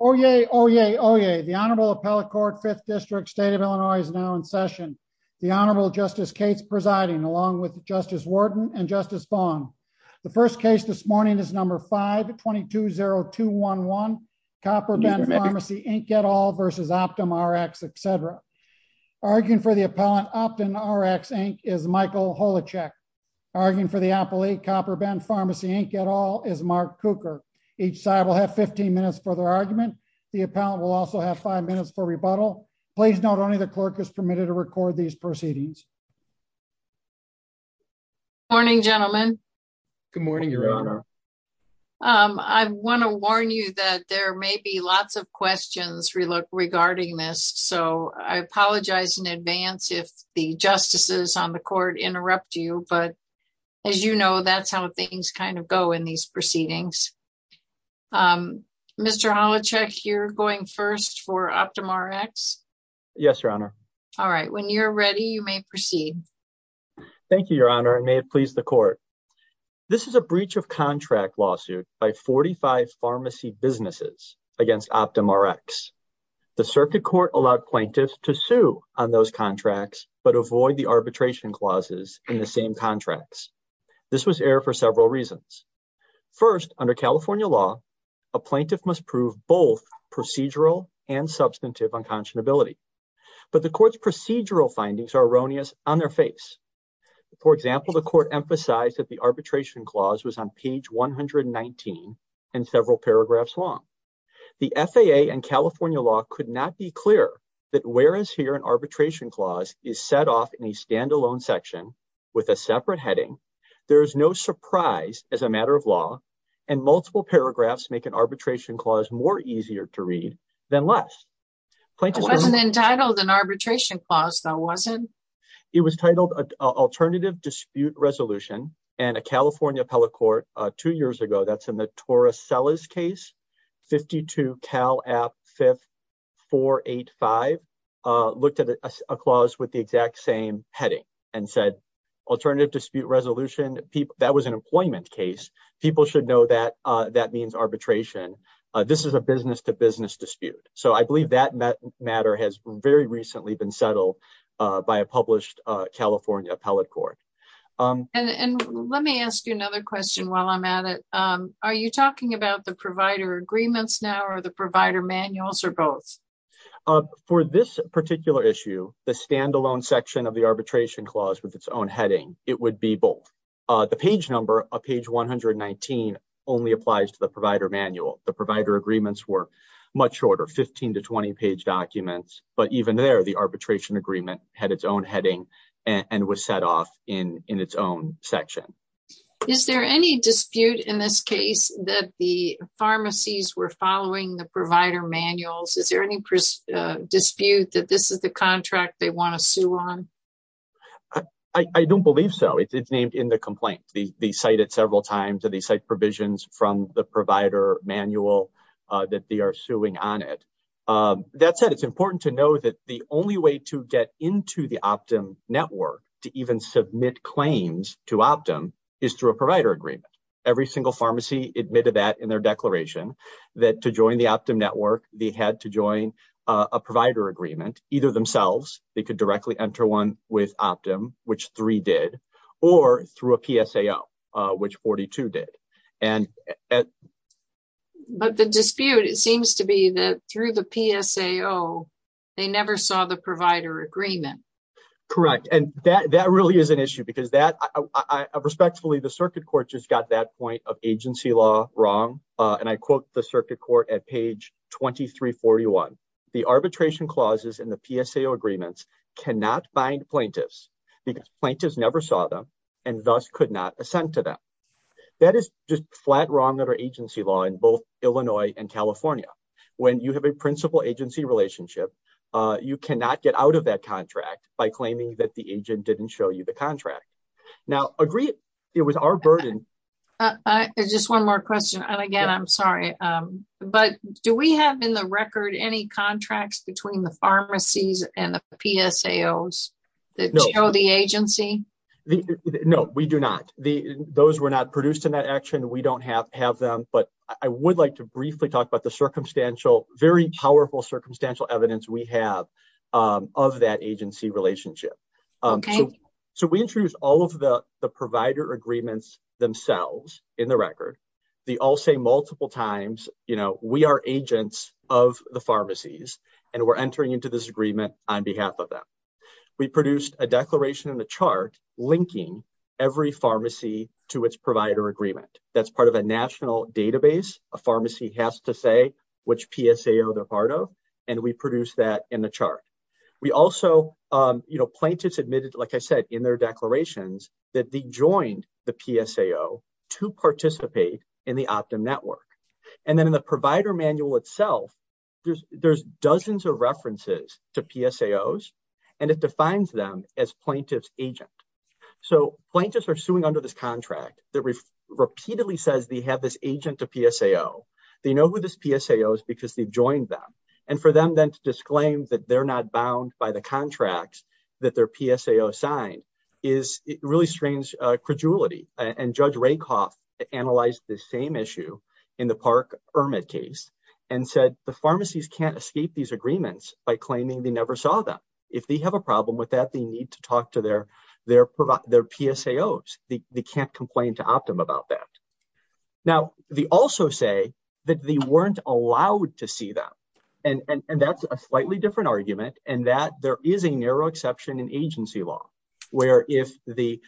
Oyez, oyez, oyez. The Honorable Appellate Court, 5th District, State of Illinois, is now in session. The Honorable Justice Cates presiding, along with Justice Wharton and Justice Bong. The first case this morning is number 5-220211, Copper Bend Pharmacy, Inc. et al. v. OptumRx, etc. Arguing for the appellant, OptumRx, Inc., is Michael Holacek. Arguing for the appellee, Copper Bend Pharmacy, Inc. et al. is Mark Cooker. Each side will have 15 minutes for their argument. The appellant will also have five minutes for rebuttal. Please note only the clerk is permitted to record these proceedings. Good morning, gentlemen. Good morning, Your Honor. I want to warn you that there may be lots of questions regarding this, so I apologize in order to not interrupt you, but as you know, that's how things kind of go in these proceedings. Mr. Holacek, you're going first for OptumRx? Yes, Your Honor. All right, when you're ready, you may proceed. Thank you, Your Honor, and may it please the Court. This is a breach of contract lawsuit by 45 pharmacy businesses against OptumRx. The Circuit Court allowed plaintiffs to the same contracts. This was error for several reasons. First, under California law, a plaintiff must prove both procedural and substantive unconscionability, but the Court's procedural findings are erroneous on their face. For example, the Court emphasized that the arbitration clause was on page 119 and several paragraphs long. The FAA and California law could not be clear that whereas here an arbitration clause is set off in a standalone section with a separate heading, there is no surprise as a matter of law and multiple paragraphs make an arbitration clause more easier to read than less. It wasn't entitled an arbitration clause, though, was it? It was titled Alternative Dispute Resolution, and a California appellate court two years ago, that's in the Torres-Sellis case, 52 Cal App 5485, looked at a clause with the exact same heading and said, Alternative Dispute Resolution, that was an employment case. People should know that that means arbitration. This is a business to business dispute. So I believe that matter has very recently been settled by a published California appellate court. And let me ask you another question while I'm at it. Are you talking about the provider agreements now or the provider manuals or both? For this particular issue, the standalone section of the arbitration clause with its own heading, it would be both. The page number of page 119 only applies to the provider manual. The provider agreements were much shorter, 15 to 20 page documents. But even there, the arbitration agreement had its own heading and was set off in its own section. Is there any dispute in this case that the pharmacies were following the provider manuals? Is there any dispute that this is the contract they want to sue on? I don't believe so. It's named in the complaint. They cite it several times. They cite provisions from the provider manual that they are suing on it. That said, it's important to know that the only way to get into the Optum network to even submit claims to Optum is through a provider agreement. Every single pharmacy admitted that in their declaration that to join the Optum network, they had to join a provider agreement, either themselves, they could directly enter one with Optum, which three did, or through a PSAO, which 42 did. But the dispute, it seems to be that through the PSAO, they never saw the provider agreement. Correct. And that really is an issue because respectfully, the circuit court just got that point of agency law wrong. And I quote the circuit court at page 2341. The arbitration clauses in the PSAO agreements cannot bind plaintiffs because plaintiffs never saw them and thus could not send to them. That is just flat wrong under agency law in both Illinois and California. When you have a principal agency relationship, you cannot get out of that contract by claiming that the agent didn't show you the contract. Now, agree, it was our burden. Just one more question. And again, I'm sorry. But do we have in the record any contracts between the pharmacies and the PSAOs that show the agency? No, we do not. Those were not produced in that action. We don't have them. But I would like to briefly talk about the circumstantial, very powerful circumstantial evidence we have of that agency relationship. So we introduced all of the provider agreements themselves in the record. They all say multiple times, you know, we are agents of the pharmacies and we're entering into this agreement on behalf of them. We produced a declaration in the chart linking every pharmacy to its provider agreement. That's part of a national database. A pharmacy has to say which PSAO they're part of. And we produce that in the chart. We also, you know, plaintiffs admitted, like I said, in their network. And then in the provider manual itself, there's dozens of references to PSAOs and it defines them as plaintiff's agent. So plaintiffs are suing under this contract that repeatedly says they have this agent to PSAO. They know who this PSAO is because they've joined them. And for them then to disclaim that they're not bound by the contracts that their PSAO signed is really strange credulity. And Judge Rakoff analyzed the same issue in the Park-Ermit case and said the pharmacies can't escape these agreements by claiming they never saw them. If they have a problem with that, they need to talk to their PSAOs. They can't complain to Optum about that. Now, they also say that they weren't allowed to see them. And that's a slightly different argument. And that there is a narrow exception in agency law, where if the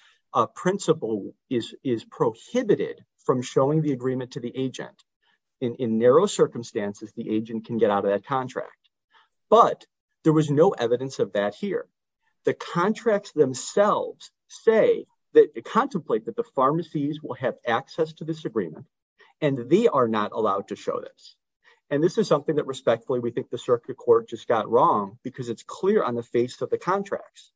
principle is prohibited from showing the agreement to the agent in narrow circumstances, the agent can get out of that contract. But there was no evidence of that here. The contracts themselves say that contemplate that the pharmacies will have access to this agreement and they are not allowed to because it's clear on the face of the contracts.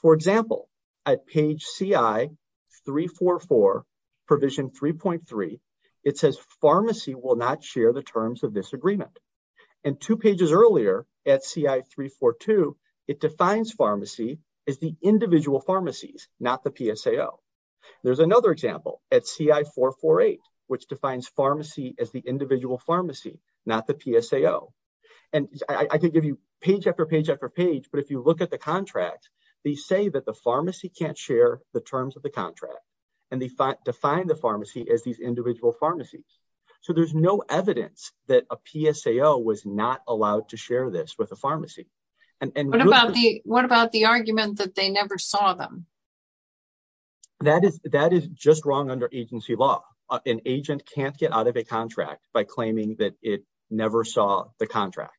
For example, at page CI-344 provision 3.3, it says pharmacy will not share the terms of this agreement. And two pages earlier at CI-342, it defines pharmacy as the individual pharmacies, not the PSAO. There's another example at CI-448, which defines pharmacy as the individual pharmacy, not the PSAO. And I can give you page after page after page, but if you look at the contract, they say that the pharmacy can't share the terms of the contract. And they define the pharmacy as these individual pharmacies. So there's no evidence that a PSAO was not allowed to share this with a pharmacy. And what about the argument that they never saw them? That is just wrong under agency law. An agent can't get out of a contract by claiming that it never saw the contract.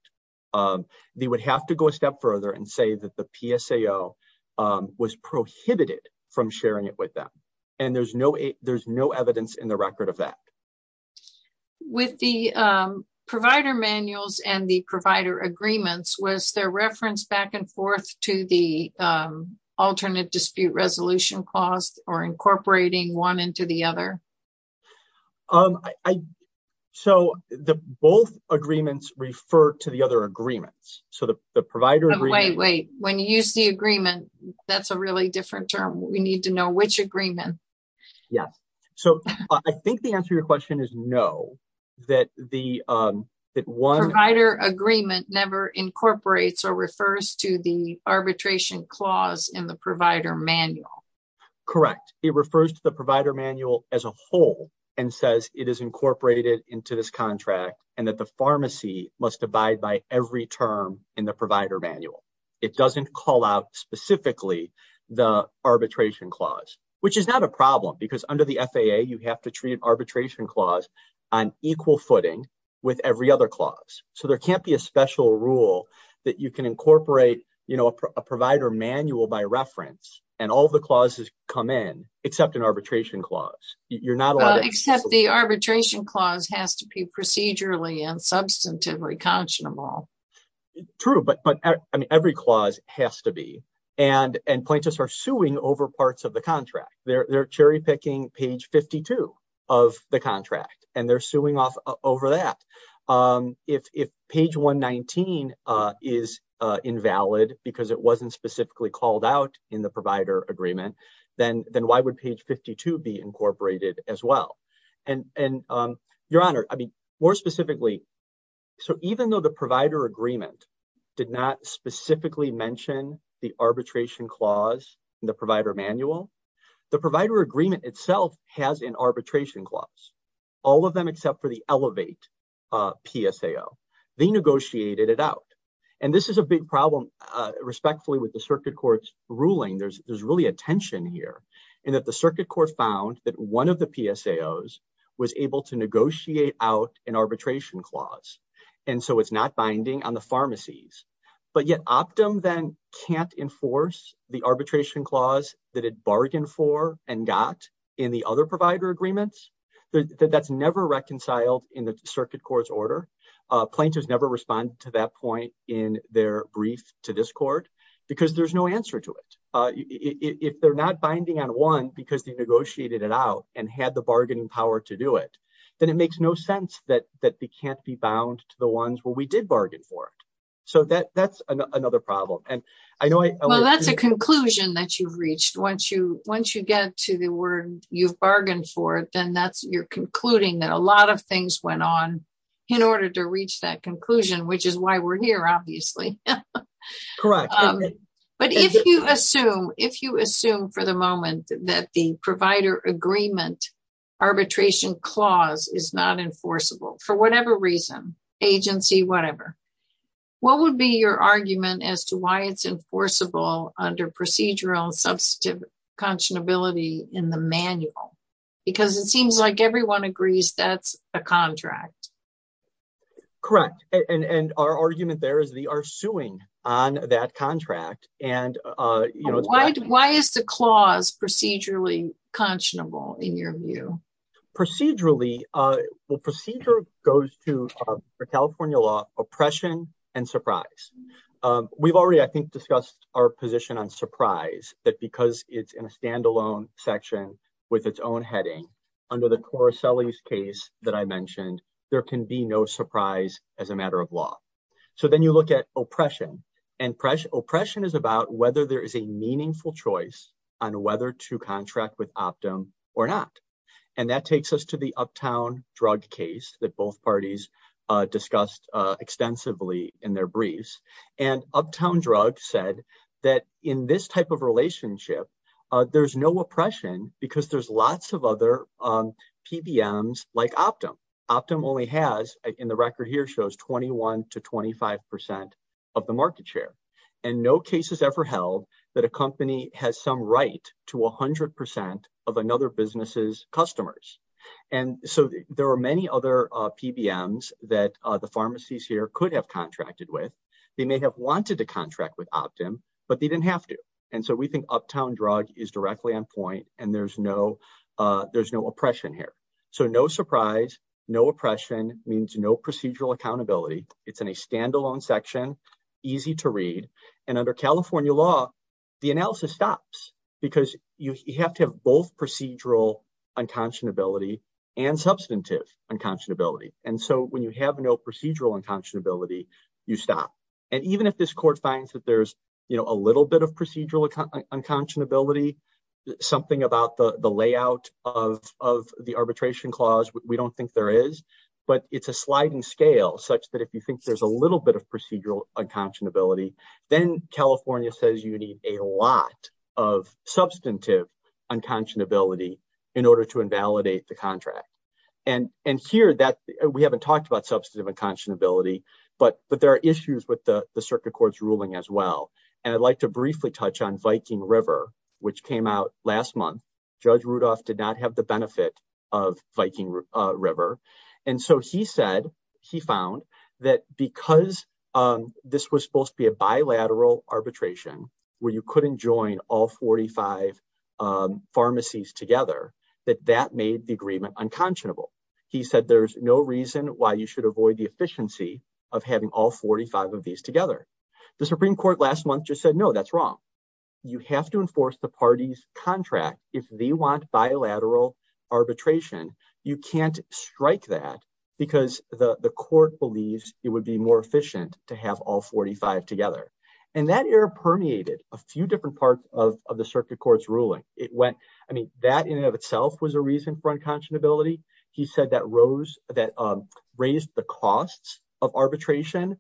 They would have to go a step further and say that the PSAO was prohibited from sharing it with them. And there's no evidence in the record of that. With the provider manuals and the provider agreements, was there reference back and forth to the alternate dispute resolution cost or incorporating one into the other? So both agreements refer to the other agreements. So the provider agreement- Wait, wait. When you use the agreement, that's a really different term. We need to know which agreement. Yes. So I think the answer to your question is no, that one- Arbitration clause in the provider manual. Correct. It refers to the provider manual as a whole and says it is incorporated into this contract and that the pharmacy must abide by every term in the provider manual. It doesn't call out specifically the arbitration clause, which is not a problem because under the FAA, you have to treat an arbitration clause on equal footing with every other clause. So there can't be a special rule that you can a provider manual by reference and all the clauses come in except an arbitration clause. Except the arbitration clause has to be procedurally and substantively conscionable. True, but every clause has to be. And plaintiffs are suing over parts of the contract. They're cherry picking page 52 of the contract and they're suing off over that. If page 119 is invalid because it wasn't specifically called out in the provider agreement, then why would page 52 be incorporated as well? And your honor, I mean, more specifically. So even though the provider agreement did not specifically mention the arbitration clause in the provider manual, the provider agreement itself has an arbitration clause. All of them except for the elevate PSAO, they negotiated it out. And this is a big problem respectfully with the circuit court's ruling. There's really a tension here and that the circuit court found that one of the PSAOs was able to negotiate out an arbitration clause. And so it's not binding on the pharmacies, but yet Optum then can't enforce the arbitration clause that it bargained for and got in the other agreements. That's never reconciled in the circuit court's order. Plaintiffs never responded to that point in their brief to this court because there's no answer to it. If they're not binding on one because they negotiated it out and had the bargaining power to do it, then it makes no sense that they can't be bound to the ones where we did bargain for it. So that's another problem. Well, that's a conclusion that you've reached. Once you get to the word you've bargained for it, then you're concluding that a lot of things went on in order to reach that conclusion, which is why we're here, obviously. Correct. But if you assume for the moment that the provider agreement arbitration clause is not enforceable for whatever reason, agency, whatever, what would be your argument as to why it's enforceable under procedural substantive conscionability in the manual? Because it seems like everyone agrees that's a contract. Correct. And our argument there is they are suing on that contract. Why is the clause procedurally conscionable in your view? Procedurally, well, procedure goes to the California law, oppression and surprise. We've already, I think, discussed our position on surprise that because it's in a standalone section with its own heading under the Cora Sully's case that I mentioned, there can be no surprise as a matter of law. So then you look at oppression and oppression. Oppression is about whether there is a meaningful choice on whether to contract with Optum or not. And that takes us to the Uptown Drug case that both parties discussed extensively in their briefs. And Uptown Drug said that in this type of relationship, there's no oppression because there's lots of other PBMs like Optum. Optum only has in the record here shows 21 to 25 percent of the market share and no cases ever held that a company has some right to 100 percent of another business's customers. And so there are many other PBMs that the pharmacies here could have contracted with. They may have wanted to contract with Optum, but they didn't have to. And so we think Uptown Drug is directly on point and there's no there's no oppression here. So no surprise, no oppression means no procedural accountability. It's in a standalone section, easy to read. And under California law, the analysis stops because you have to have both procedural unconscionability and substantive unconscionability. And so when you have no procedural unconscionability, you stop. And even if this court finds that there's a little bit of procedural unconscionability, something about the layout of the arbitration clause, we don't think there is. But it's a sliding scale such that if you think there's a little bit of procedural unconscionability, then California says you need a lot of substantive unconscionability in order to invalidate the contract. And and here that we haven't talked about substantive unconscionability, but but there are issues with the circuit court's ruling as well. And I'd like to briefly touch on Viking River, which came out last month. Judge Rudolph did not have the benefit of Viking River. And so he said he found that because this was supposed to be a bilateral arbitration where you couldn't join all 45 pharmacies together, that that made the agreement unconscionable. He said there's no reason why you should avoid the efficiency of having all 45 of these together. The Supreme Court last month just said, no, that's wrong. You have to enforce the party's contract if they want bilateral arbitration. You can't strike that because the court believes it would be more efficient to have all 45 together. And that era permeated a few different parts of the circuit court's ruling. It went I mean, that in and of itself was a reason for unconscionability. He said that rose that raised the costs of arbitration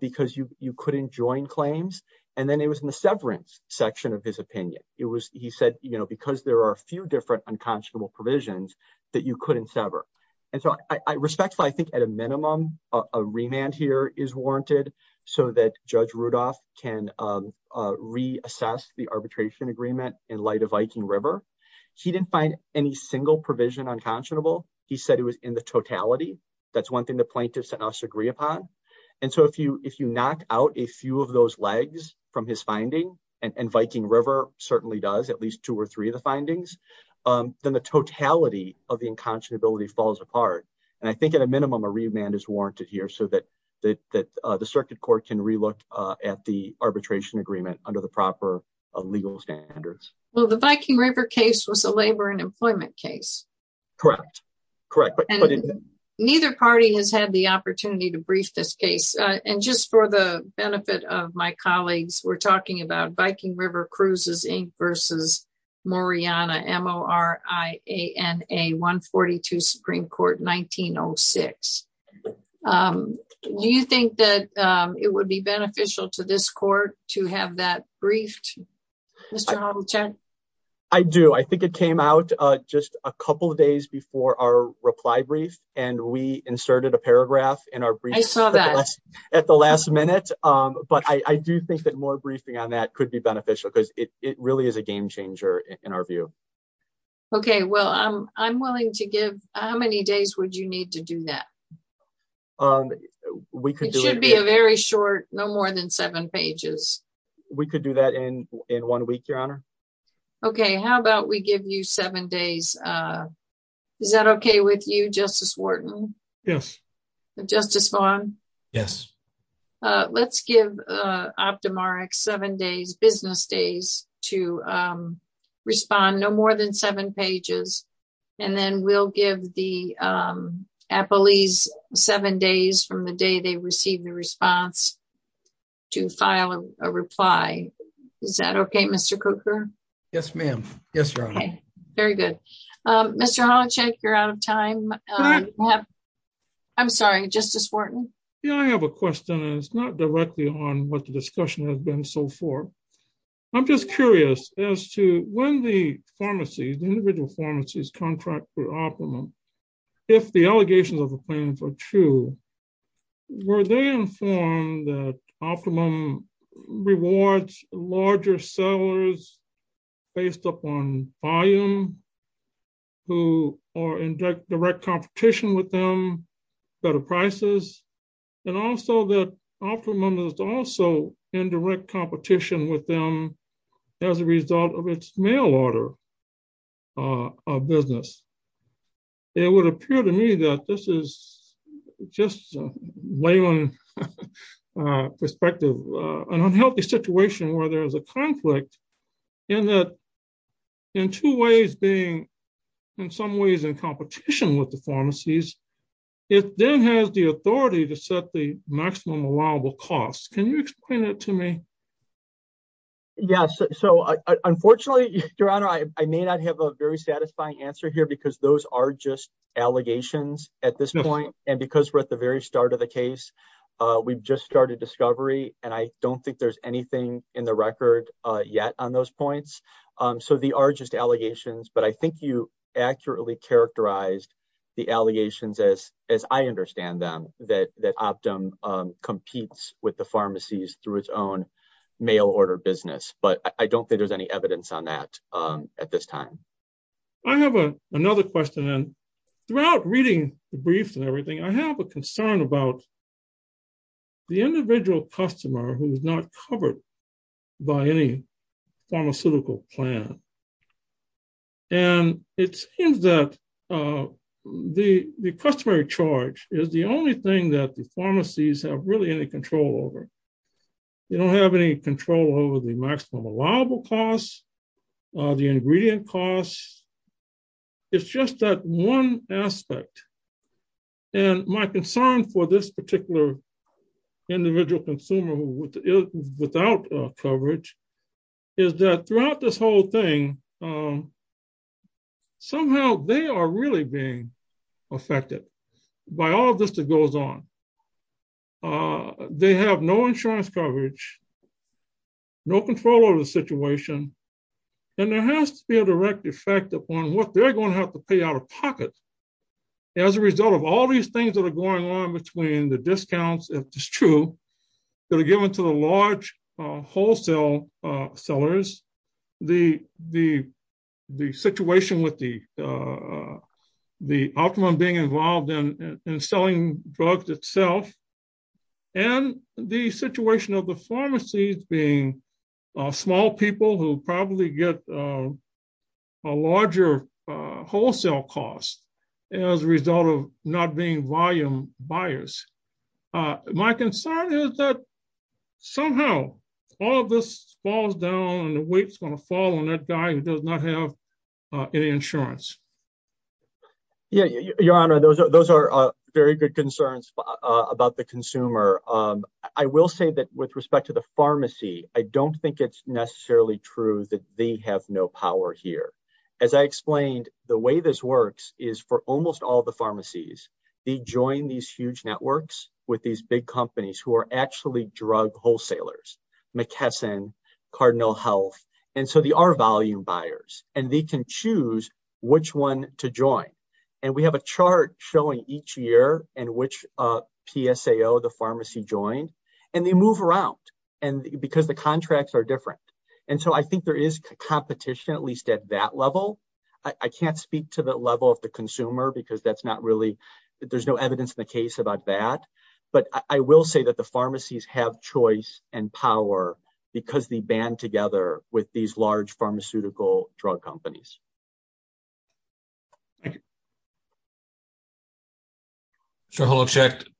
because you couldn't join claims. And then it was in the severance section of his opinion. It was he said, you know, because there are a few different unconscionable provisions that you couldn't sever. And so I respectfully I think at a minimum, a remand here is warranted so that Judge Rudolph can reassess the arbitration agreement in light of Viking River. He didn't find any single provision unconscionable. He said it was in the totality. That's one thing the plaintiffs and us agree upon. And so if you if you knock out a few of those legs from his finding and Viking River certainly does at least two or three of the findings, then the totality of the unconscionability falls apart. And I think at a minimum, a remand is warranted here so that that that the circuit court can relook at the arbitration agreement under the proper legal standards. Well, the Viking River case was a labor and employment case. Correct. Correct. But neither party has had the opportunity to brief this case. And just for the benefit of my colleagues, we're talking about Viking River Cruises Inc. versus Mariana M.O.R.I.A.N.A. 142 Supreme Court 1906. Do you think that it would be beneficial to this our reply brief and we inserted a paragraph in our brief at the last minute? But I do think that more briefing on that could be beneficial because it really is a game changer in our view. Okay, well, I'm willing to give how many days would you need to do that? We could be a very short no more than seven pages. We could do that in in one week, Your Honor. Okay, how about we give you seven days Is that okay with you, Justice Wharton? Yes. Justice Vaughn? Yes. Let's give Optumarek seven days business days to respond no more than seven pages. And then we'll give the appellees seven days from the day they received the response to file a reply. Is that okay, Mr. Cooker? Yes, ma'am. Yes, Your Honor. Very good. Mr. Honachek, you're out of time. I'm sorry, Justice Wharton. Yeah, I have a question. It's not directly on what the discussion has been so far. I'm just curious as to when the pharmacy, the individual pharmacies contract for optimum, if the allegations of a claim for true, were they informed that optimum rewards larger sellers based upon volume who are in direct competition with them, better prices, and also that optimum is also in direct competition with them as a result of its mail order of business? It would appear to me that this is just layman perspective, an unhealthy situation where there is a conflict in that in two ways being in some ways in competition with the pharmacies, it then has the authority to set the maximum allowable costs. Can you explain that to me? Yes. So unfortunately, Your Honor, I may not have a very satisfying answer here because those are just allegations at this point. And because we're at the very start of the case, we've just started discovery. And I don't think there's anything in the record yet on those points. So they are just allegations. But I think you accurately characterized the allegations as I understand them, that optimum competes with the pharmacies through its own mail order business. But I don't think there's any evidence on that at this time. I have another question. And without reading the briefs and everything, I have a concern about the individual customer who is not covered by any pharmaceutical plan. And it seems that the customary charge is the only thing that the pharmacies have really any control over. You don't have any control over the maximum allowable costs, the ingredient costs. It's just that one aspect. And my concern for this particular individual consumer without coverage is that throughout this whole thing, somehow they are really being affected by all of this that goes on. They have no insurance coverage, no control over the situation. And there has to be a direct effect upon what they're going to have to pay out of pocket. As a result of all these things that are going on between the discounts, if it's true, that are given to the large wholesale sellers, the situation with the optimum being involved in get a larger wholesale cost as a result of not being volume buyers. My concern is that somehow all of this falls down and the weight's going to fall on that guy who does not have any insurance. Yeah, your honor, those are very good concerns about the consumer. I will say that respect to the pharmacy, I don't think it's necessarily true that they have no power here. As I explained, the way this works is for almost all the pharmacies, they join these huge networks with these big companies who are actually drug wholesalers, McKesson, Cardinal Health. And so they are volume buyers and they can choose which one to join. And we have a chart showing each year and which PSAO the pharmacy joined and they move around and because the contracts are different. And so I think there is competition, at least at that level. I can't speak to the level of the consumer because that's not really, there's no evidence in the case about that. But I will say that the pharmacies have choice and power because they band together with these large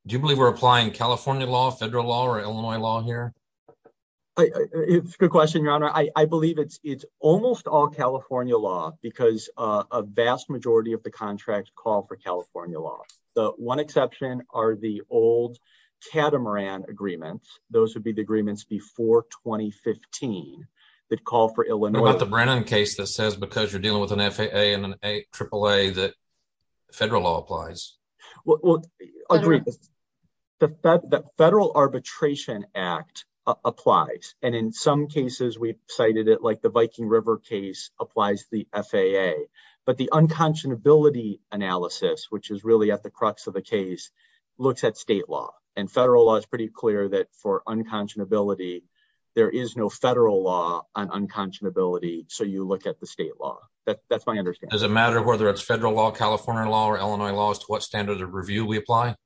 Do you believe we're applying California law, federal law or Illinois law here? It's a good question, your honor. I believe it's it's almost all California law because a vast majority of the contracts call for California law. The one exception are the old catamaran agreements. Those would be the agreements before 2015 that call for Illinois. What about the Brennan case that says because you're dealing with an FAA and an AAA that federal law applies? Well, I agree that the Federal Arbitration Act applies. And in some cases, we've cited it like the Viking River case applies the FAA. But the unconscionability analysis, which is really at the crux of the case, looks at state law and federal law. It's pretty clear that for unconscionability, there is no federal law on unconscionability. So you look at the state law. That's my Does it matter whether it's federal law, California law or Illinois law as to what standard of review we apply?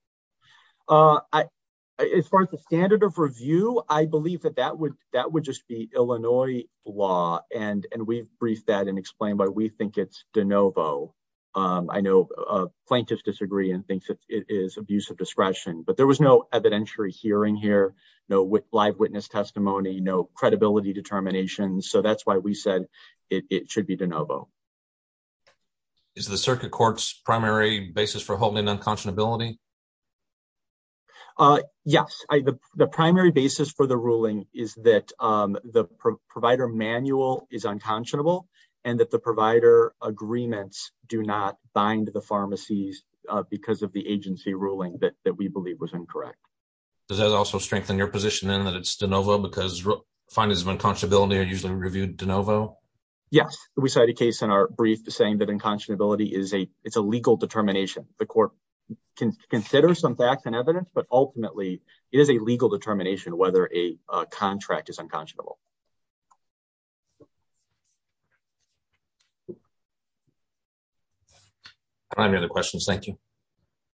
As far as the standard of review, I believe that that would that would just be Illinois law. And and we've briefed that and explained why we think it's de novo. I know plaintiffs disagree and thinks it is abuse of discretion, but there was no evidentiary hearing here. No live witness testimony, no credibility determinations. So that's why we said it should be de novo. Is the circuit court's primary basis for holding unconscionability? Yes, the primary basis for the ruling is that the provider manual is unconscionable and that the provider agreements do not bind the pharmacies because of the agency ruling that we believe was incorrect. Does that also strengthen your position in that it's de novo because findings of unconscionability are usually reviewed de novo? Yes, we cite a case in our brief to saying that unconscionability is a it's a legal determination. The court can consider some facts and evidence, but ultimately it is a legal determination whether a contract is unconscionable. I have no other questions. Thank you.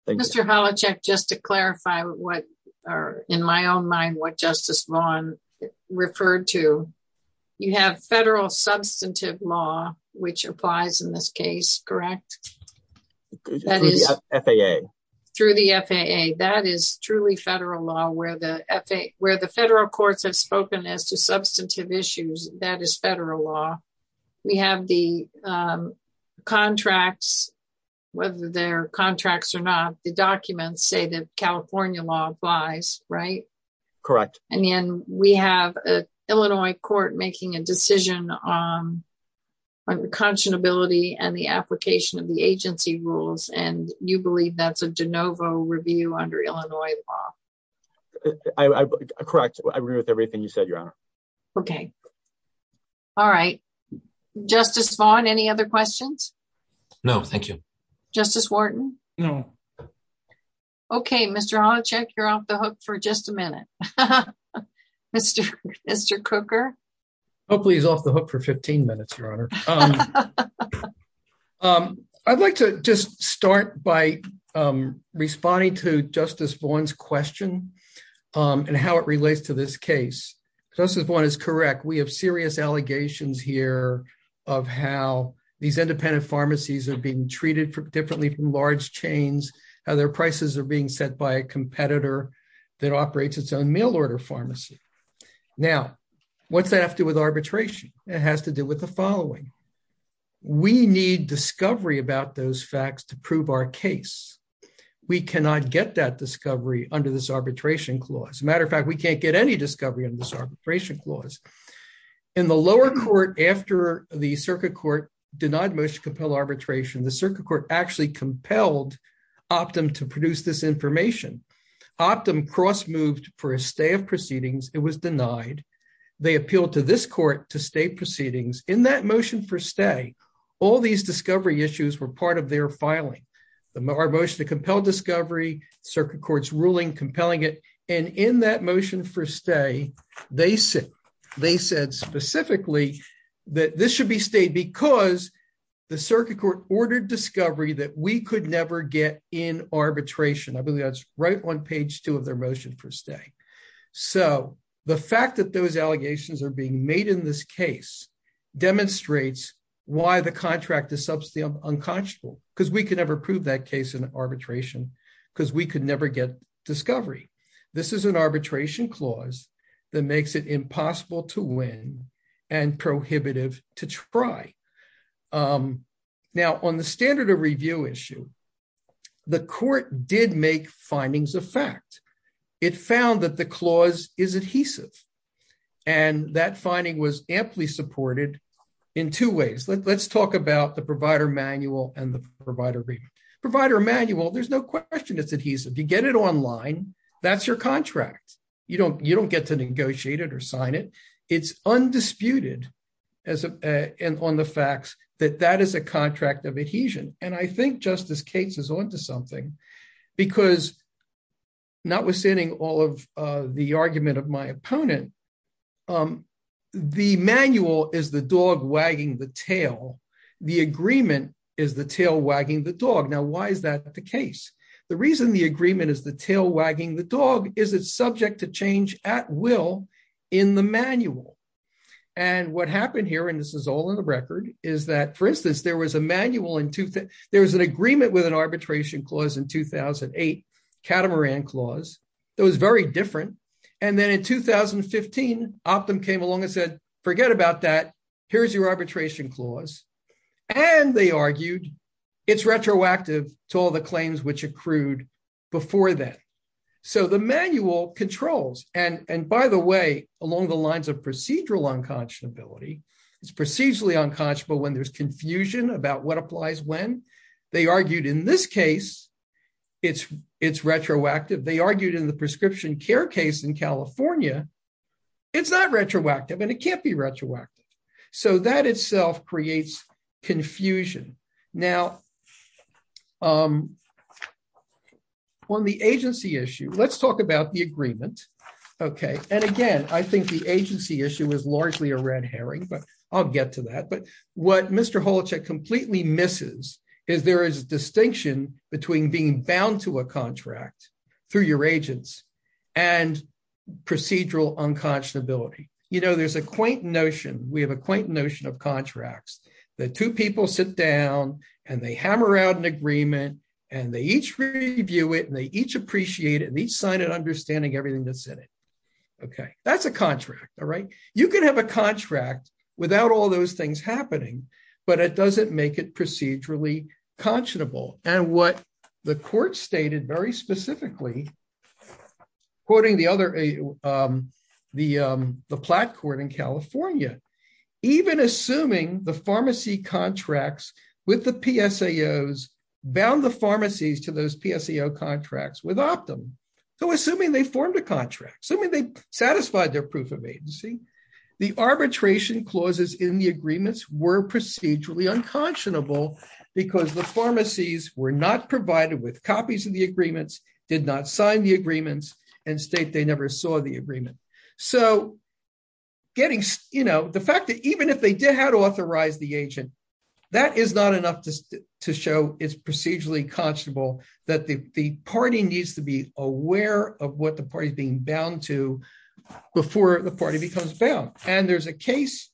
Mr. Holacek, just to clarify what are in my own Justice Vaughn referred to, you have federal substantive law, which applies in this case, correct? Through the FAA. That is truly federal law where the federal courts have spoken as to substantive issues. That is federal law. We have the contracts, whether they're contracts or not, the documents say that California law applies, right? Correct. And then we have an Illinois court making a decision on unconscionability and the application of the agency rules, and you believe that's a de novo review under Illinois law? Correct. I agree with everything you said, Your Honor. Okay. All right. Justice Vaughn, any other questions? No, thank you. Justice Wharton? No. Okay. Mr. Holacek, you're off the hook for just a minute. Mr. Cooker? Hopefully he's off the hook for 15 minutes, Your Honor. I'd like to just start by responding to Justice Vaughn's question and how it relates to this case. Justice Vaughn is correct. We have serious allegations here of how these independent pharmacies are being treated differently from large chains, how their prices are being set by a competitor that operates its own mail order pharmacy. Now, what's that have to do with arbitration? It has to do with the following. We need discovery about those facts to prove our case. We cannot get that discovery under this arbitration clause. Matter of fact, we can't get any discovery under this arbitration clause. In the lower court after the circuit court denied motion to compel arbitration, the circuit court actually compelled Optum to produce this information. Optum cross-moved for a stay of proceedings. It was denied. They appealed to this court to stay proceedings. In that motion for stay, all these discovery issues were part of their filing. Our motion to compel discovery, circuit court's ruling compelling it, and in that the circuit court ordered discovery that we could never get in arbitration. I believe that's right on page two of their motion for stay. The fact that those allegations are being made in this case demonstrates why the contract is substantially unconscionable, because we could never prove that case in arbitration, because we could never get discovery. This is an arbitration clause that makes it impossible to win and prohibitive to try. Now, on the standard of review issue, the court did make findings of fact. It found that the clause is adhesive, and that finding was amply supported in two ways. Let's talk about the provider manual and the provider review. Provider manual, there's no question it's adhesive. You get it online, that's your contract. You don't get to negotiate it or sign it. It's undisputed on the facts that that is a contract of adhesion. I think Justice Cates is onto something, because notwithstanding all of the argument of my opponent, the manual is the dog wagging the tail. The agreement is the tail wagging the dog. Now, why is that the case? The reason the agreement is the tail wagging the dog is it's subject to change at will in the manual. What happened here, and this is all in the record, is that, for instance, there was a manual in... There was an agreement with an arbitration clause in 2008, catamaran clause, that was very different. Then in 2015, Optum came along and said, forget about that, here's your arbitration clause. They argued it's retroactive to all the controls. By the way, along the lines of procedural unconscionability, it's procedurally unconscionable when there's confusion about what applies when. They argued in this case, it's retroactive. They argued in the prescription care case in California, it's not retroactive and it can't be retroactive. That itself creates confusion. Now, on the agency issue, let's talk about the agreement. Again, I think the agency issue is largely a red herring, but I'll get to that. What Mr. Holacek completely misses is there is a distinction between being bound to a contract through your agents and procedural unconscionability. There's a quaint notion, we have a quaint notion of contracts, that two people sit down and they hammer out an agreement and they each review it and they each appreciate it and each sign it understanding everything that's in it. That's a contract. You can have a contract without all those things happening, but it doesn't make it procedurally conscionable. What the court stated very specifically, quoting the plat court in contracts with the PSAOs bound the pharmacies to those PSAO contracts without them. Assuming they formed a contract, assuming they satisfied their proof of agency, the arbitration clauses in the agreements were procedurally unconscionable because the pharmacies were not provided with copies of the agreements, did not sign the agreements and state they never saw the agreement. The fact that even if they did have to authorize the agent, that is not enough to show it's procedurally conscionable, that the party needs to be aware of what the party is being bound to before the party becomes bound. There's a case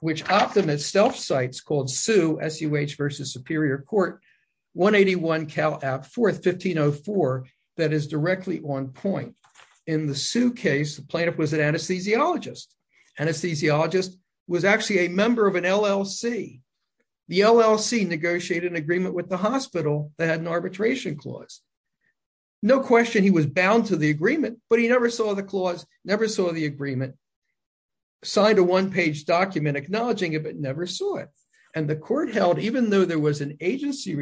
which was an anesthesiologist. Anesthesiologist was actually a member of an LLC. The LLC negotiated an agreement with the hospital that had an arbitration clause. No question he was bound to the agreement, but he never saw the clause, never saw the agreement, signed a one-page document acknowledging it, but never saw it. The court held even though there was an agency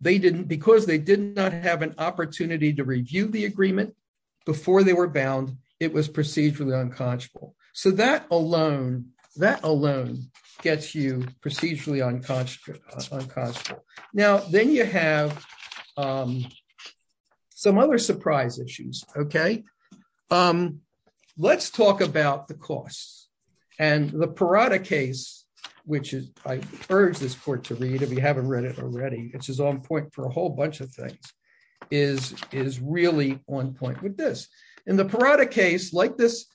they didn't, because they did not have an opportunity to review the agreement before they were bound, it was procedurally unconscionable. So that alone gets you procedurally unconscionable. Now, then you have some other surprise issues. Okay. Let's talk about the costs and the Parada case, which I urge this court to read if you haven't read it already, which is on point for a whole bunch of things, is really on point with this. In the Parada case, like this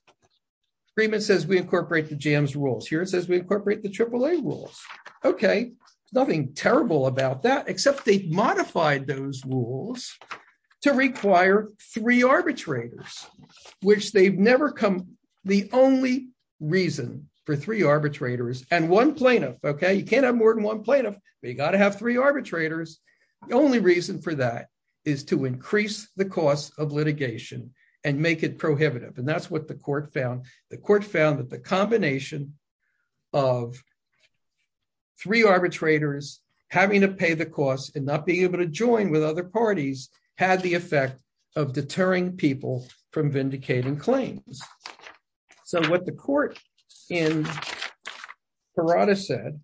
agreement says we incorporate the JAMS rules. Here it says we incorporate the AAA rules. Okay. Nothing terrible about that, except they modified those rules to require three arbitrators, which they've never come, the only reason for three arbitrators and one plaintiff. Okay. You can't have more than one plaintiff, but you got to have three arbitrators. The only reason for that is to increase the cost of litigation and make it prohibitive. And that's what the court found. The court found that the combination of three arbitrators having to pay the costs and not being able to join with other parties had the effect of deterring people from vindicating claims. So what the court in Parada said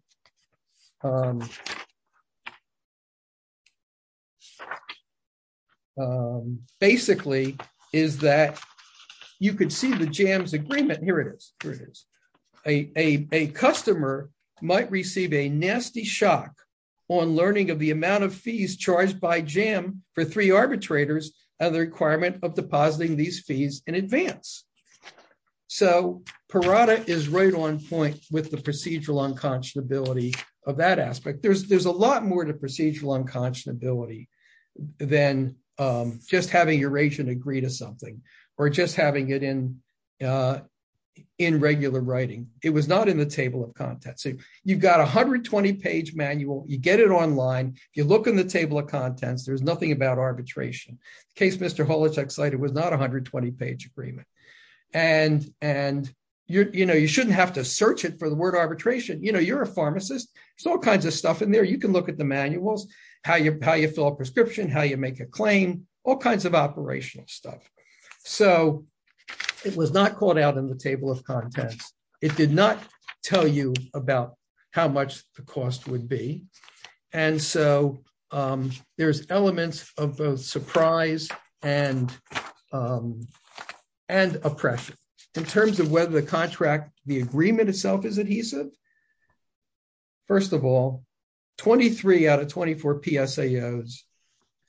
basically is that you could see the JAMS agreement. Here it is. A customer might receive a nasty shock on learning of the amount of fees charged by JAM for three arbitrators and the requirement of depositing these fees in advance. So Parada is right on point with procedural unconscionability of that aspect. There's a lot more to procedural unconscionability than just having Eurasian agree to something or just having it in regular writing. It was not in the table of contents. So you've got 120 page manual, you get it online, you look in the table of contents, there's nothing about arbitration. The case Mr. Holacek cited was not 120 page agreement. And you shouldn't have to search it for the word arbitration. You're a pharmacist, there's all kinds of stuff in there. You can look at the manuals, how you fill a prescription, how you make a claim, all kinds of operational stuff. So it was not called out in the table of contents. It did not tell you about how much the cost would be. And so there's elements of both prize and oppression. In terms of whether the contract, the agreement itself is adhesive, first of all, 23 out of 24 PSAOs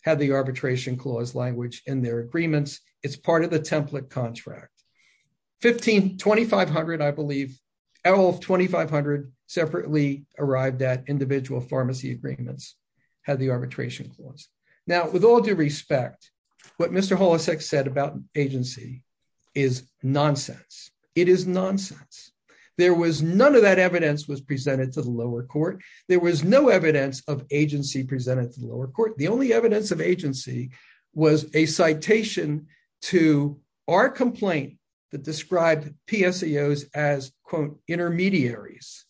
had the arbitration clause language in their agreements. It's part of the template contract. 2,500 I believe, out of 2,500 separately arrived at pharmacy agreements had the arbitration clause. Now, with all due respect, what Mr. Holacek said about agency is nonsense. It is nonsense. There was none of that evidence was presented to the lower court. There was no evidence of agency presented to the lower court. The only evidence of agency was a citation to our complaint that described PSAOs as quote intermediaries.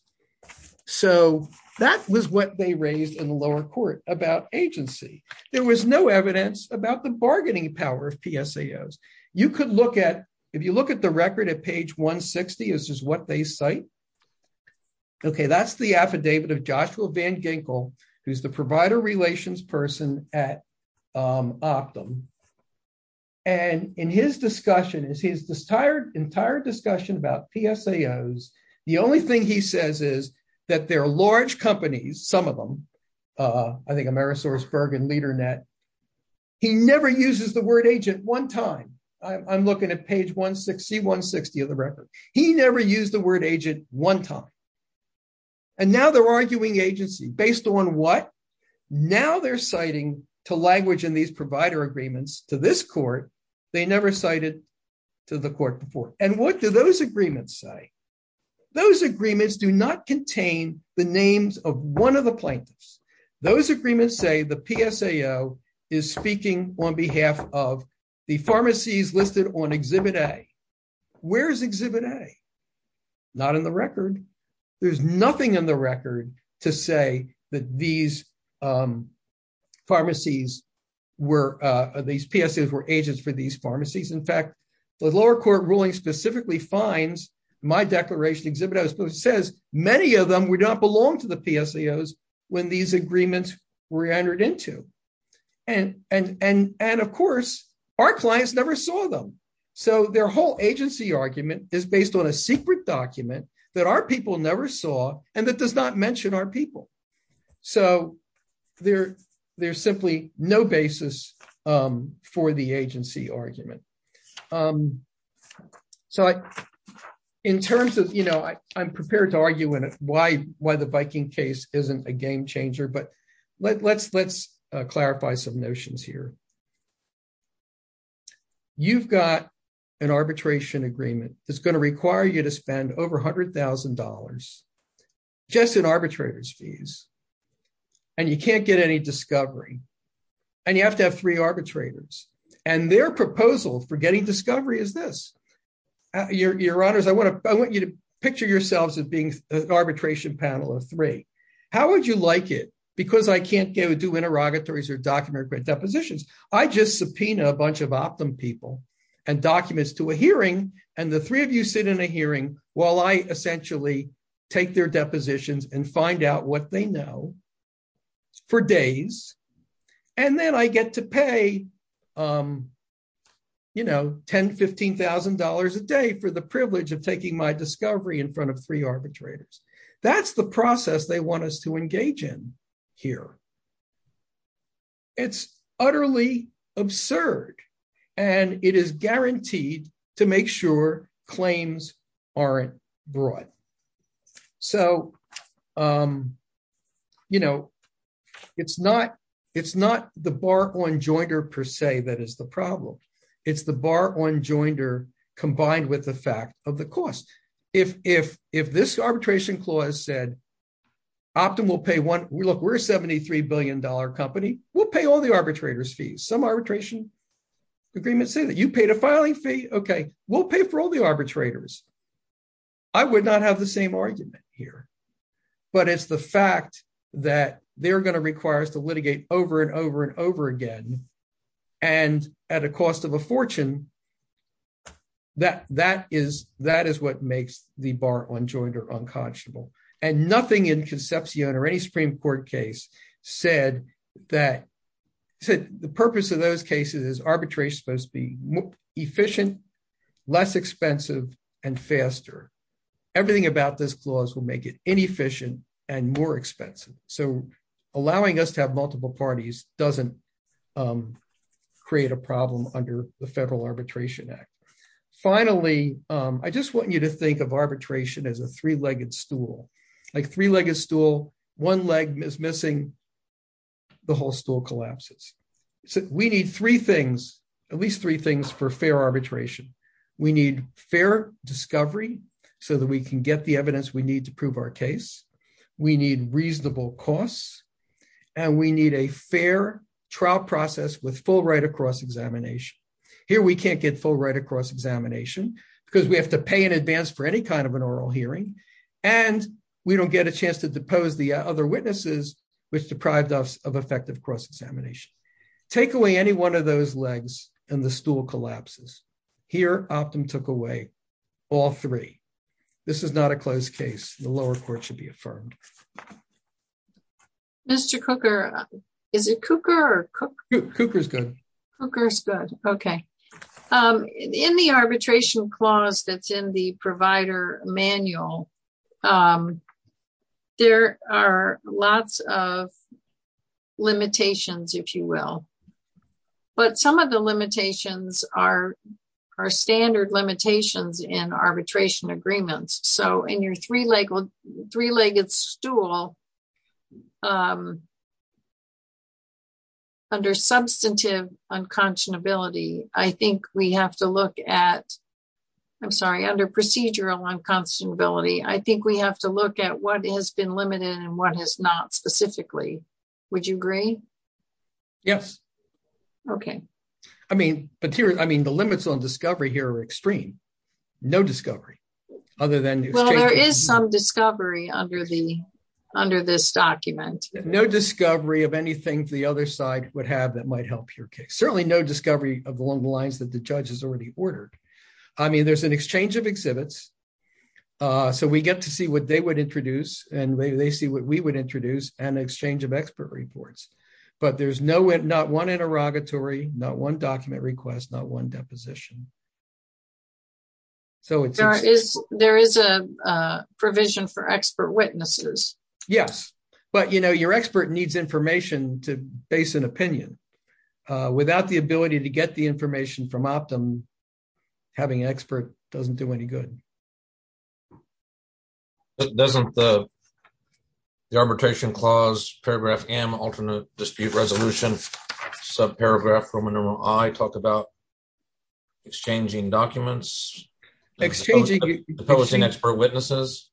So that was what they raised in the lower court about agency. There was no evidence about the bargaining power of PSAOs. You could look at, if you look at the record at page 160, this is what they cite. Okay, that's the affidavit of Joshua Van Ginkle, who's the provider relations person at Optum. And in his discussion, his entire discussion about PSAOs, the only thing he says is that they're large companies, some of them, I think Amerisource, Bergen, LeaderNet, he never uses the word agent one time. I'm looking at page 160 of the record. He never used the word agent one time. And now they're arguing agency. Based on what? Now they're citing to language in these provider agreements to this court, they never cited to the court before. And what do those agreements say? Those agreements do not contain the names of one of the plaintiffs. Those agreements say the PSAO is speaking on behalf of the pharmacies listed on Exhibit A. Where's Exhibit A? Not in the record. There's no evidence that these pharmacies were, these PSAOs were agents for these pharmacies. In fact, the lower court ruling specifically finds my declaration Exhibit A, which says many of them would not belong to the PSAOs when these agreements were entered into. And of course, our clients never saw them. So their whole agency argument is based on a secret document that our people never saw, and that does not mention our people. So there's simply no basis for the agency argument. So in terms of, you know, I'm prepared to argue why the Viking case isn't a game changer, but let's clarify some notions here. You've got an arbitration agreement that's going to require you to spend over $100,000 just in arbitrator's fees, and you can't get any discovery, and you have to have three arbitrators. And their proposal for getting discovery is this. Your honors, I want you to picture yourselves as being an arbitration panel of three. How would you like it? Because I can't do interrogatories or document depositions. I just sit in a hearing while I essentially take their depositions and find out what they know for days, and then I get to pay, you know, $10,000, $15,000 a day for the privilege of taking my discovery in front of three arbitrators. That's the process they want us to engage in here. It's utterly absurd, and it is guaranteed to make sure claims aren't brought. So, you know, it's not the bar on joinder per se that is the problem. It's the bar on joinder combined with the fact of the cost. If this arbitration clause said, Optum will pay one. Look, we're a $73 billion company. We'll pay all the arbitrator's fees. Some arbitration agreements say that. You paid a filing fee? Okay, we'll pay for all the arbitrators. I would not have the same argument here, but it's the fact that they're going to require us to litigate over and over and over again, and at a cost of a fortune, that is what makes the bar on joinder unconscionable, and nothing in Concepcion or any Supreme Court case said that the purpose of those cases is arbitration is supposed to be efficient, less expensive, and faster. Everything about this clause will make it inefficient and more expensive, so allowing us to have multiple parties doesn't create a problem under the Federal Arbitration Act. Finally, I just want you to think of arbitration as a three-legged stool. Like three-legged stool, one leg is missing, the whole stool collapses. So we need three things, at least three things for fair arbitration. We need fair discovery so that we can get the evidence we need to prove our case. We need reasonable costs, and we need a fair trial process with full right of cross-examination. Here, we can't get full right of cross-examination because we have to pay in advance for any kind of an oral hearing, and we don't get a chance to depose the other witnesses, which deprived us of effective cross-examination. Take away any one of those legs, and the stool collapses. Here, Optum took away all three. This is not a closed case. The lower court should be affirmed. Mr. Cooker, is it Cooker or Cook? Cooker's good. Cooker's good, okay. In the arbitration clause that's in the provider manual, there are lots of limitations, if you will, but some of the limitations are standard limitations in arbitration agreements. In your three-legged stool, under procedural unconscionability, I think we have to look at what has been limited and what has not specifically. Would you agree? Yes. Okay. I mean, the limits on discovery here are extreme. No discovery, other than- Well, there is some discovery under this document. No discovery of anything the other side would have that might help your case. Certainly, no discovery along the lines that the judge has already ordered. I mean, there's an exchange of exhibits, so we get to see what they would introduce, and they see what we would introduce, and exchange of expert reports. There's not one interrogatory, not one document request, not one deposition. There is a provision for expert witnesses. Yes, but your expert needs information to base an opinion. Without the ability to get the information from Optum, having an expert doesn't do any good. Doesn't the Arbitration Clause, Paragraph M, Alternate Dispute Resolution, subparagraph from Enumeral I, talk about exchanging documents? Exchanging- Deposing expert witnesses?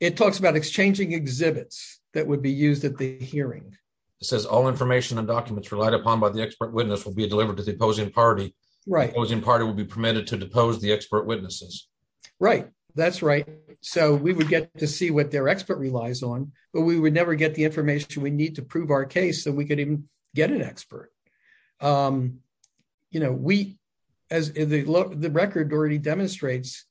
It talks about exchanging exhibits that would be used at the hearing. It says, all information and documents relied upon by the expert witness will be delivered to the opposing party. The opposing party will be permitted to depose the expert witnesses. Right, that's right. So, we would get to see what their expert relies on, but we would never get the information we need to prove our case so we could even get an expert. As the record already demonstrates,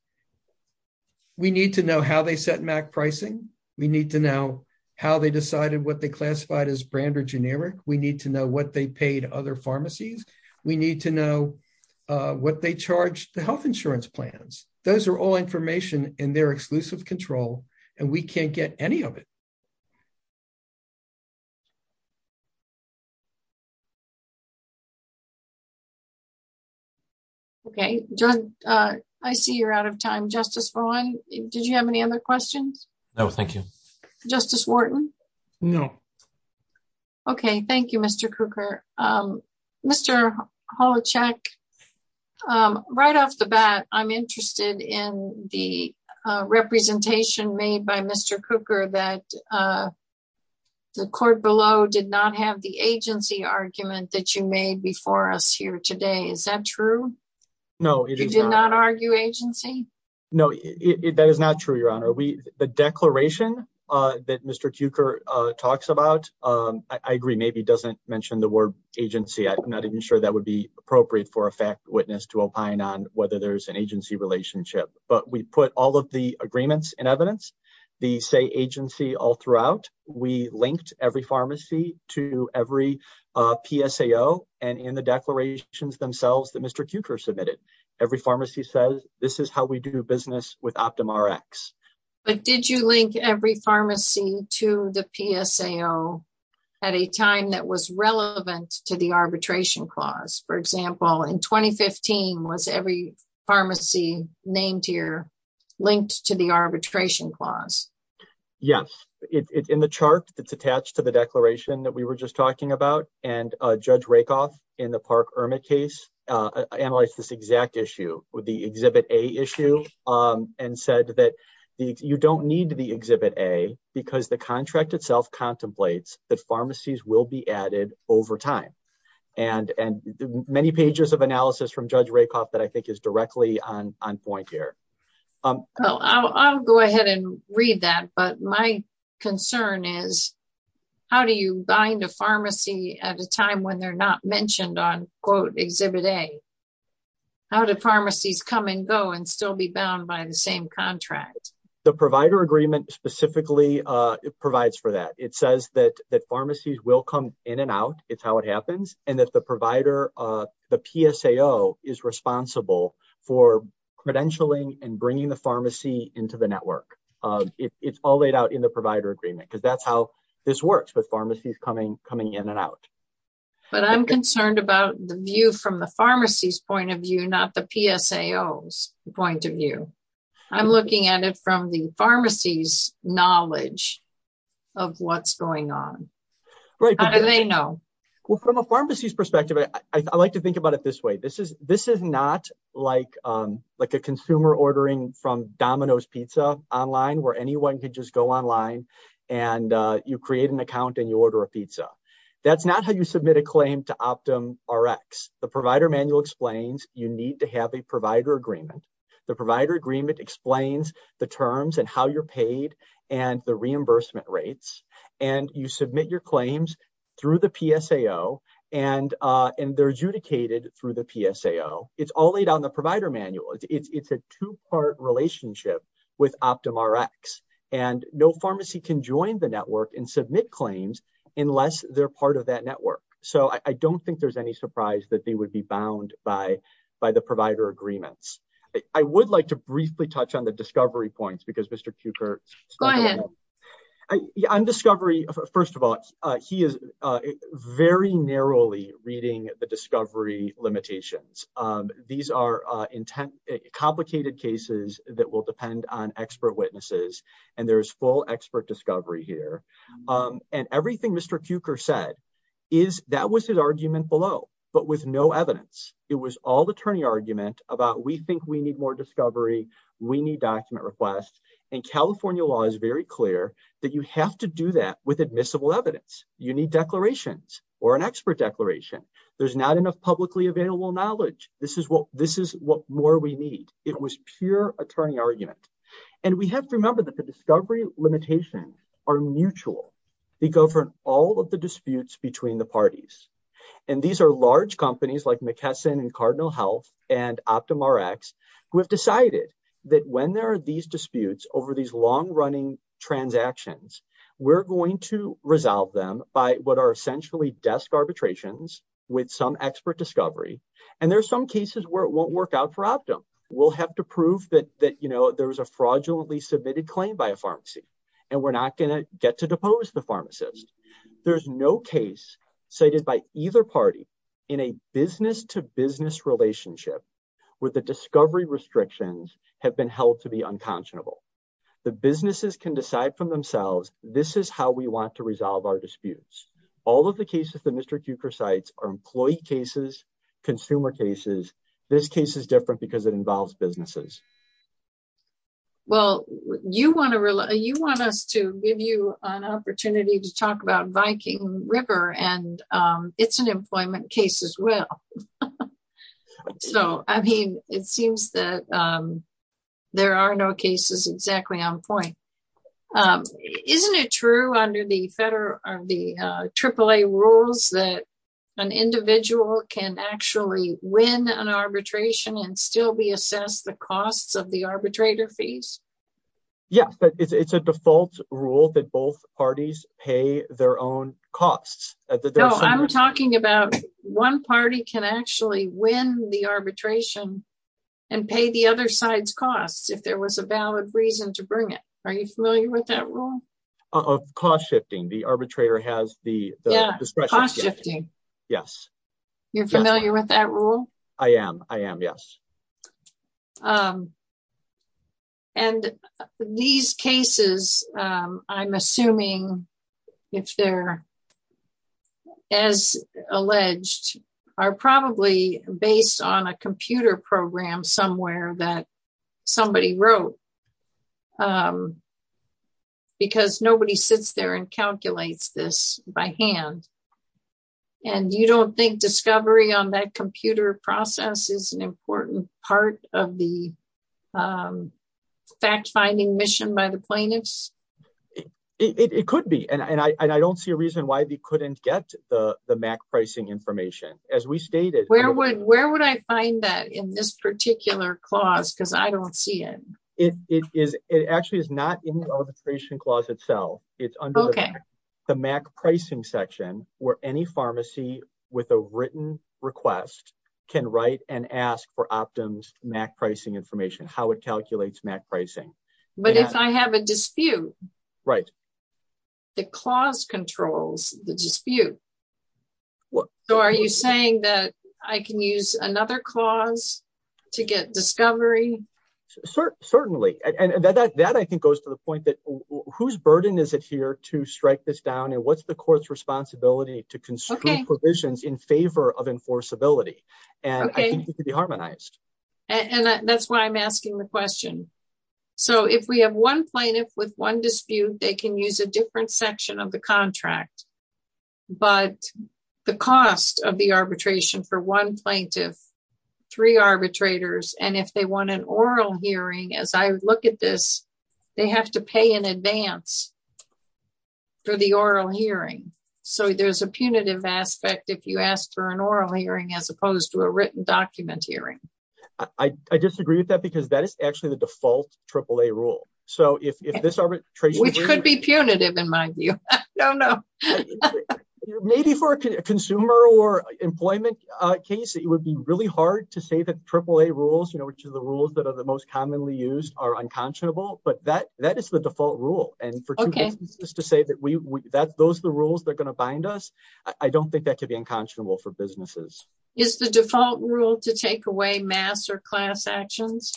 we need to know how they set MAC pricing. We need to know how they decided what they classified as brand or generic. We need to know what they paid other those are all information in their exclusive control and we can't get any of it. Okay, John, I see you're out of time. Justice Vaughn, did you have any other questions? No, thank you. Justice Wharton? No. Okay, thank you, Mr. Cukor. Mr. Holacek, right off the bat, I'm interested in the representation made by Mr. Cukor that the court below did not have the agency argument that you made before us here today. Is that true? No, it is not. You did not argue agency? No, that is not true, Your Honor. The declaration that Mr. Cukor talks about, I agree, maybe doesn't mention the word agency. I'm not even sure that would be appropriate for a fact witness to opine on whether there's an agency relationship. But we put all of the agreements in evidence, the say agency all throughout. We linked every pharmacy to every PSAO and in the declarations themselves that Mr. Cukor submitted. Every pharmacy says, this is how we do business with OptumRx. But did you link every pharmacy to the PSAO at a time that was relevant to the arbitration clause? For example, in 2015, was every pharmacy named here linked to the arbitration clause? Yes, in the chart that's attached to the declaration that we were just talking about and Judge Rakoff in the Park-Ermit case, analyzed this exact issue with the Exhibit A issue and said that you don't need the Exhibit A because the contract itself contemplates that pharmacies will be added over time. And many pages of analysis from Judge Rakoff that I think is directly on point here. Well, I'll go ahead and read that. But my concern is, how do you bind a pharmacy at a time when they're not mentioned on quote Exhibit A? How do pharmacies come and go and still be bound by the same contract? The provider agreement specifically provides for that. It says that pharmacies will come in and out. It's how it happens. And that the provider, the PSAO is responsible for credentialing and bringing the pharmacy into the network. It's all laid out in the provider agreement because that's how this works with pharmacies coming in and out. But I'm concerned about the view from the pharmacy's point of view, not the PSAO's point of view. I'm looking at it from the pharmacy's knowledge of what's going on. How do they know? Well, from a pharmacy's perspective, I like to think about it this way. This is not like a consumer ordering from Domino's Pizza online where anyone could just go online and you create an account and you order a pizza. That's not how you submit a claim to OptumRx. The provider manual explains you need to have a provider agreement. The provider agreement explains the terms and how you're paid and the reimbursement rates. And you submit your claims through the PSAO and they're adjudicated through the PSAO. It's all laid out in the two-part relationship with OptumRx. And no pharmacy can join the network and submit claims unless they're part of that network. So I don't think there's any surprise that they would be bound by the provider agreements. I would like to briefly touch on the discovery points because Mr. Cukert... Go ahead. On discovery, first of all, he is very narrowly reading the discovery limitations. These are complicated cases that will depend on expert witnesses. And there is full expert discovery here. And everything Mr. Cukert said, that was his argument below, but with no evidence. It was all attorney argument about, we think we need more discovery. We need document requests. And California law is very clear that you have to do that with admissible evidence. You need declarations or an expert declaration. There's not enough publicly available knowledge. This is what more we need. It was pure attorney argument. And we have to remember that the discovery limitations are mutual. They govern all of the disputes between the parties. And these are large companies like McKesson and Cardinal Health and OptumRx who have decided that when there are these disputes over these long running transactions, we're going to resolve them by what some cases where it won't work out for Optum. We'll have to prove that there was a fraudulently submitted claim by a pharmacy. And we're not going to get to depose the pharmacist. There's no case cited by either party in a business to business relationship with the discovery restrictions have been held to be unconscionable. The businesses can decide from themselves, this is how we want to resolve our disputes. All of the cases that Mr. Cukert cites are employee cases, consumer cases. This case is different because it involves businesses. Well, you want us to give you an opportunity to talk about Viking River and it's an employment case as well. So I mean, it seems that there are no cases exactly on point. Isn't it true under the AAA rules that an individual can actually win an arbitration and still be assessed the costs of the arbitrator fees? Yes, but it's a default rule that both parties pay their own costs. No, I'm talking about one party can actually win the arbitration and pay the other side's costs if there was a valid reason to bring it. Are you familiar with that rule? Of cost shifting, the arbitrator has the discretion. Yes. You're familiar with that rule? I am. I am. Yes. And these cases, I'm assuming if they're as alleged, are probably based on a computer program somewhere that somebody wrote because nobody sits there and calculates this by hand. And you don't think discovery on that computer process is an important part of the fact-finding mission by the plaintiffs? It could be. And I don't see a reason why they couldn't get the MAC pricing information as we stated. Where would I find that in this particular clause? Because I don't see it. It actually is not in the arbitration clause itself. It's under the MAC pricing section where any pharmacy with a written request can write and ask for Optum's MAC pricing information, how it calculates MAC pricing. But if I have a dispute, the clause controls the dispute. Are you saying that I can use another clause to get discovery? Certainly. And that, I think, goes to the point that whose burden is it here to strike this down and what's the court's responsibility to constrain provisions in favor of enforceability? And I think it could be harmonized. And that's why I'm asking the question. So if we have one plaintiff with one dispute, they can use a different section of the contract. But the cost of the arbitration for one plaintiff, three arbitrators, and if they want an oral hearing, as I look at this, they have to pay in advance for the oral hearing. So there's a punitive aspect if you ask for an oral hearing as opposed to a written document hearing. I disagree with that because that is actually the default AAA rule. So if this arbitration... Which could be punitive in my view. No, no. Maybe for a consumer or employment case, it would be really hard to say that AAA rules, which are the rules that are the most commonly used, are unconscionable. But that is the default rule. And for two businesses to say that those are the rules that are going to bind us, I don't think that could be unconscionable for businesses. Is the default rule to take away mass or class actions?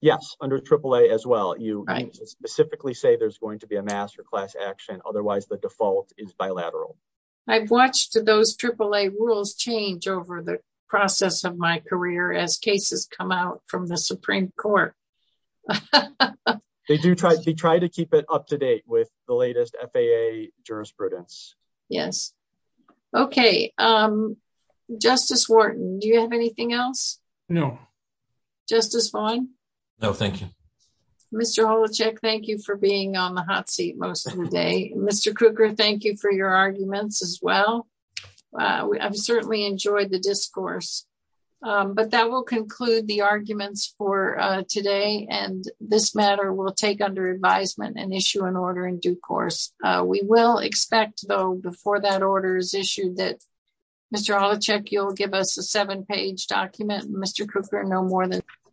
Yes, under AAA as well. You specifically say there's going to be a mass or class action, otherwise the default is bilateral. I've watched those AAA rules change over the process of my career as cases come out from the Supreme Court. They do try to keep it up to date with the latest FAA jurisprudence. Yes. Okay. Justice Wharton, do you have anything else? No. Justice Vaughn? No, thank you. Mr. Holacek, thank you for being on the hot seat most of the day. Mr. Krueger, thank you for your arguments as well. I've certainly enjoyed the discourse. But that will conclude the arguments for today. And this matter will take under advisement and issue an order. Mr. Holacek, you'll give us a seven-page document. Mr. Krueger, no more than that.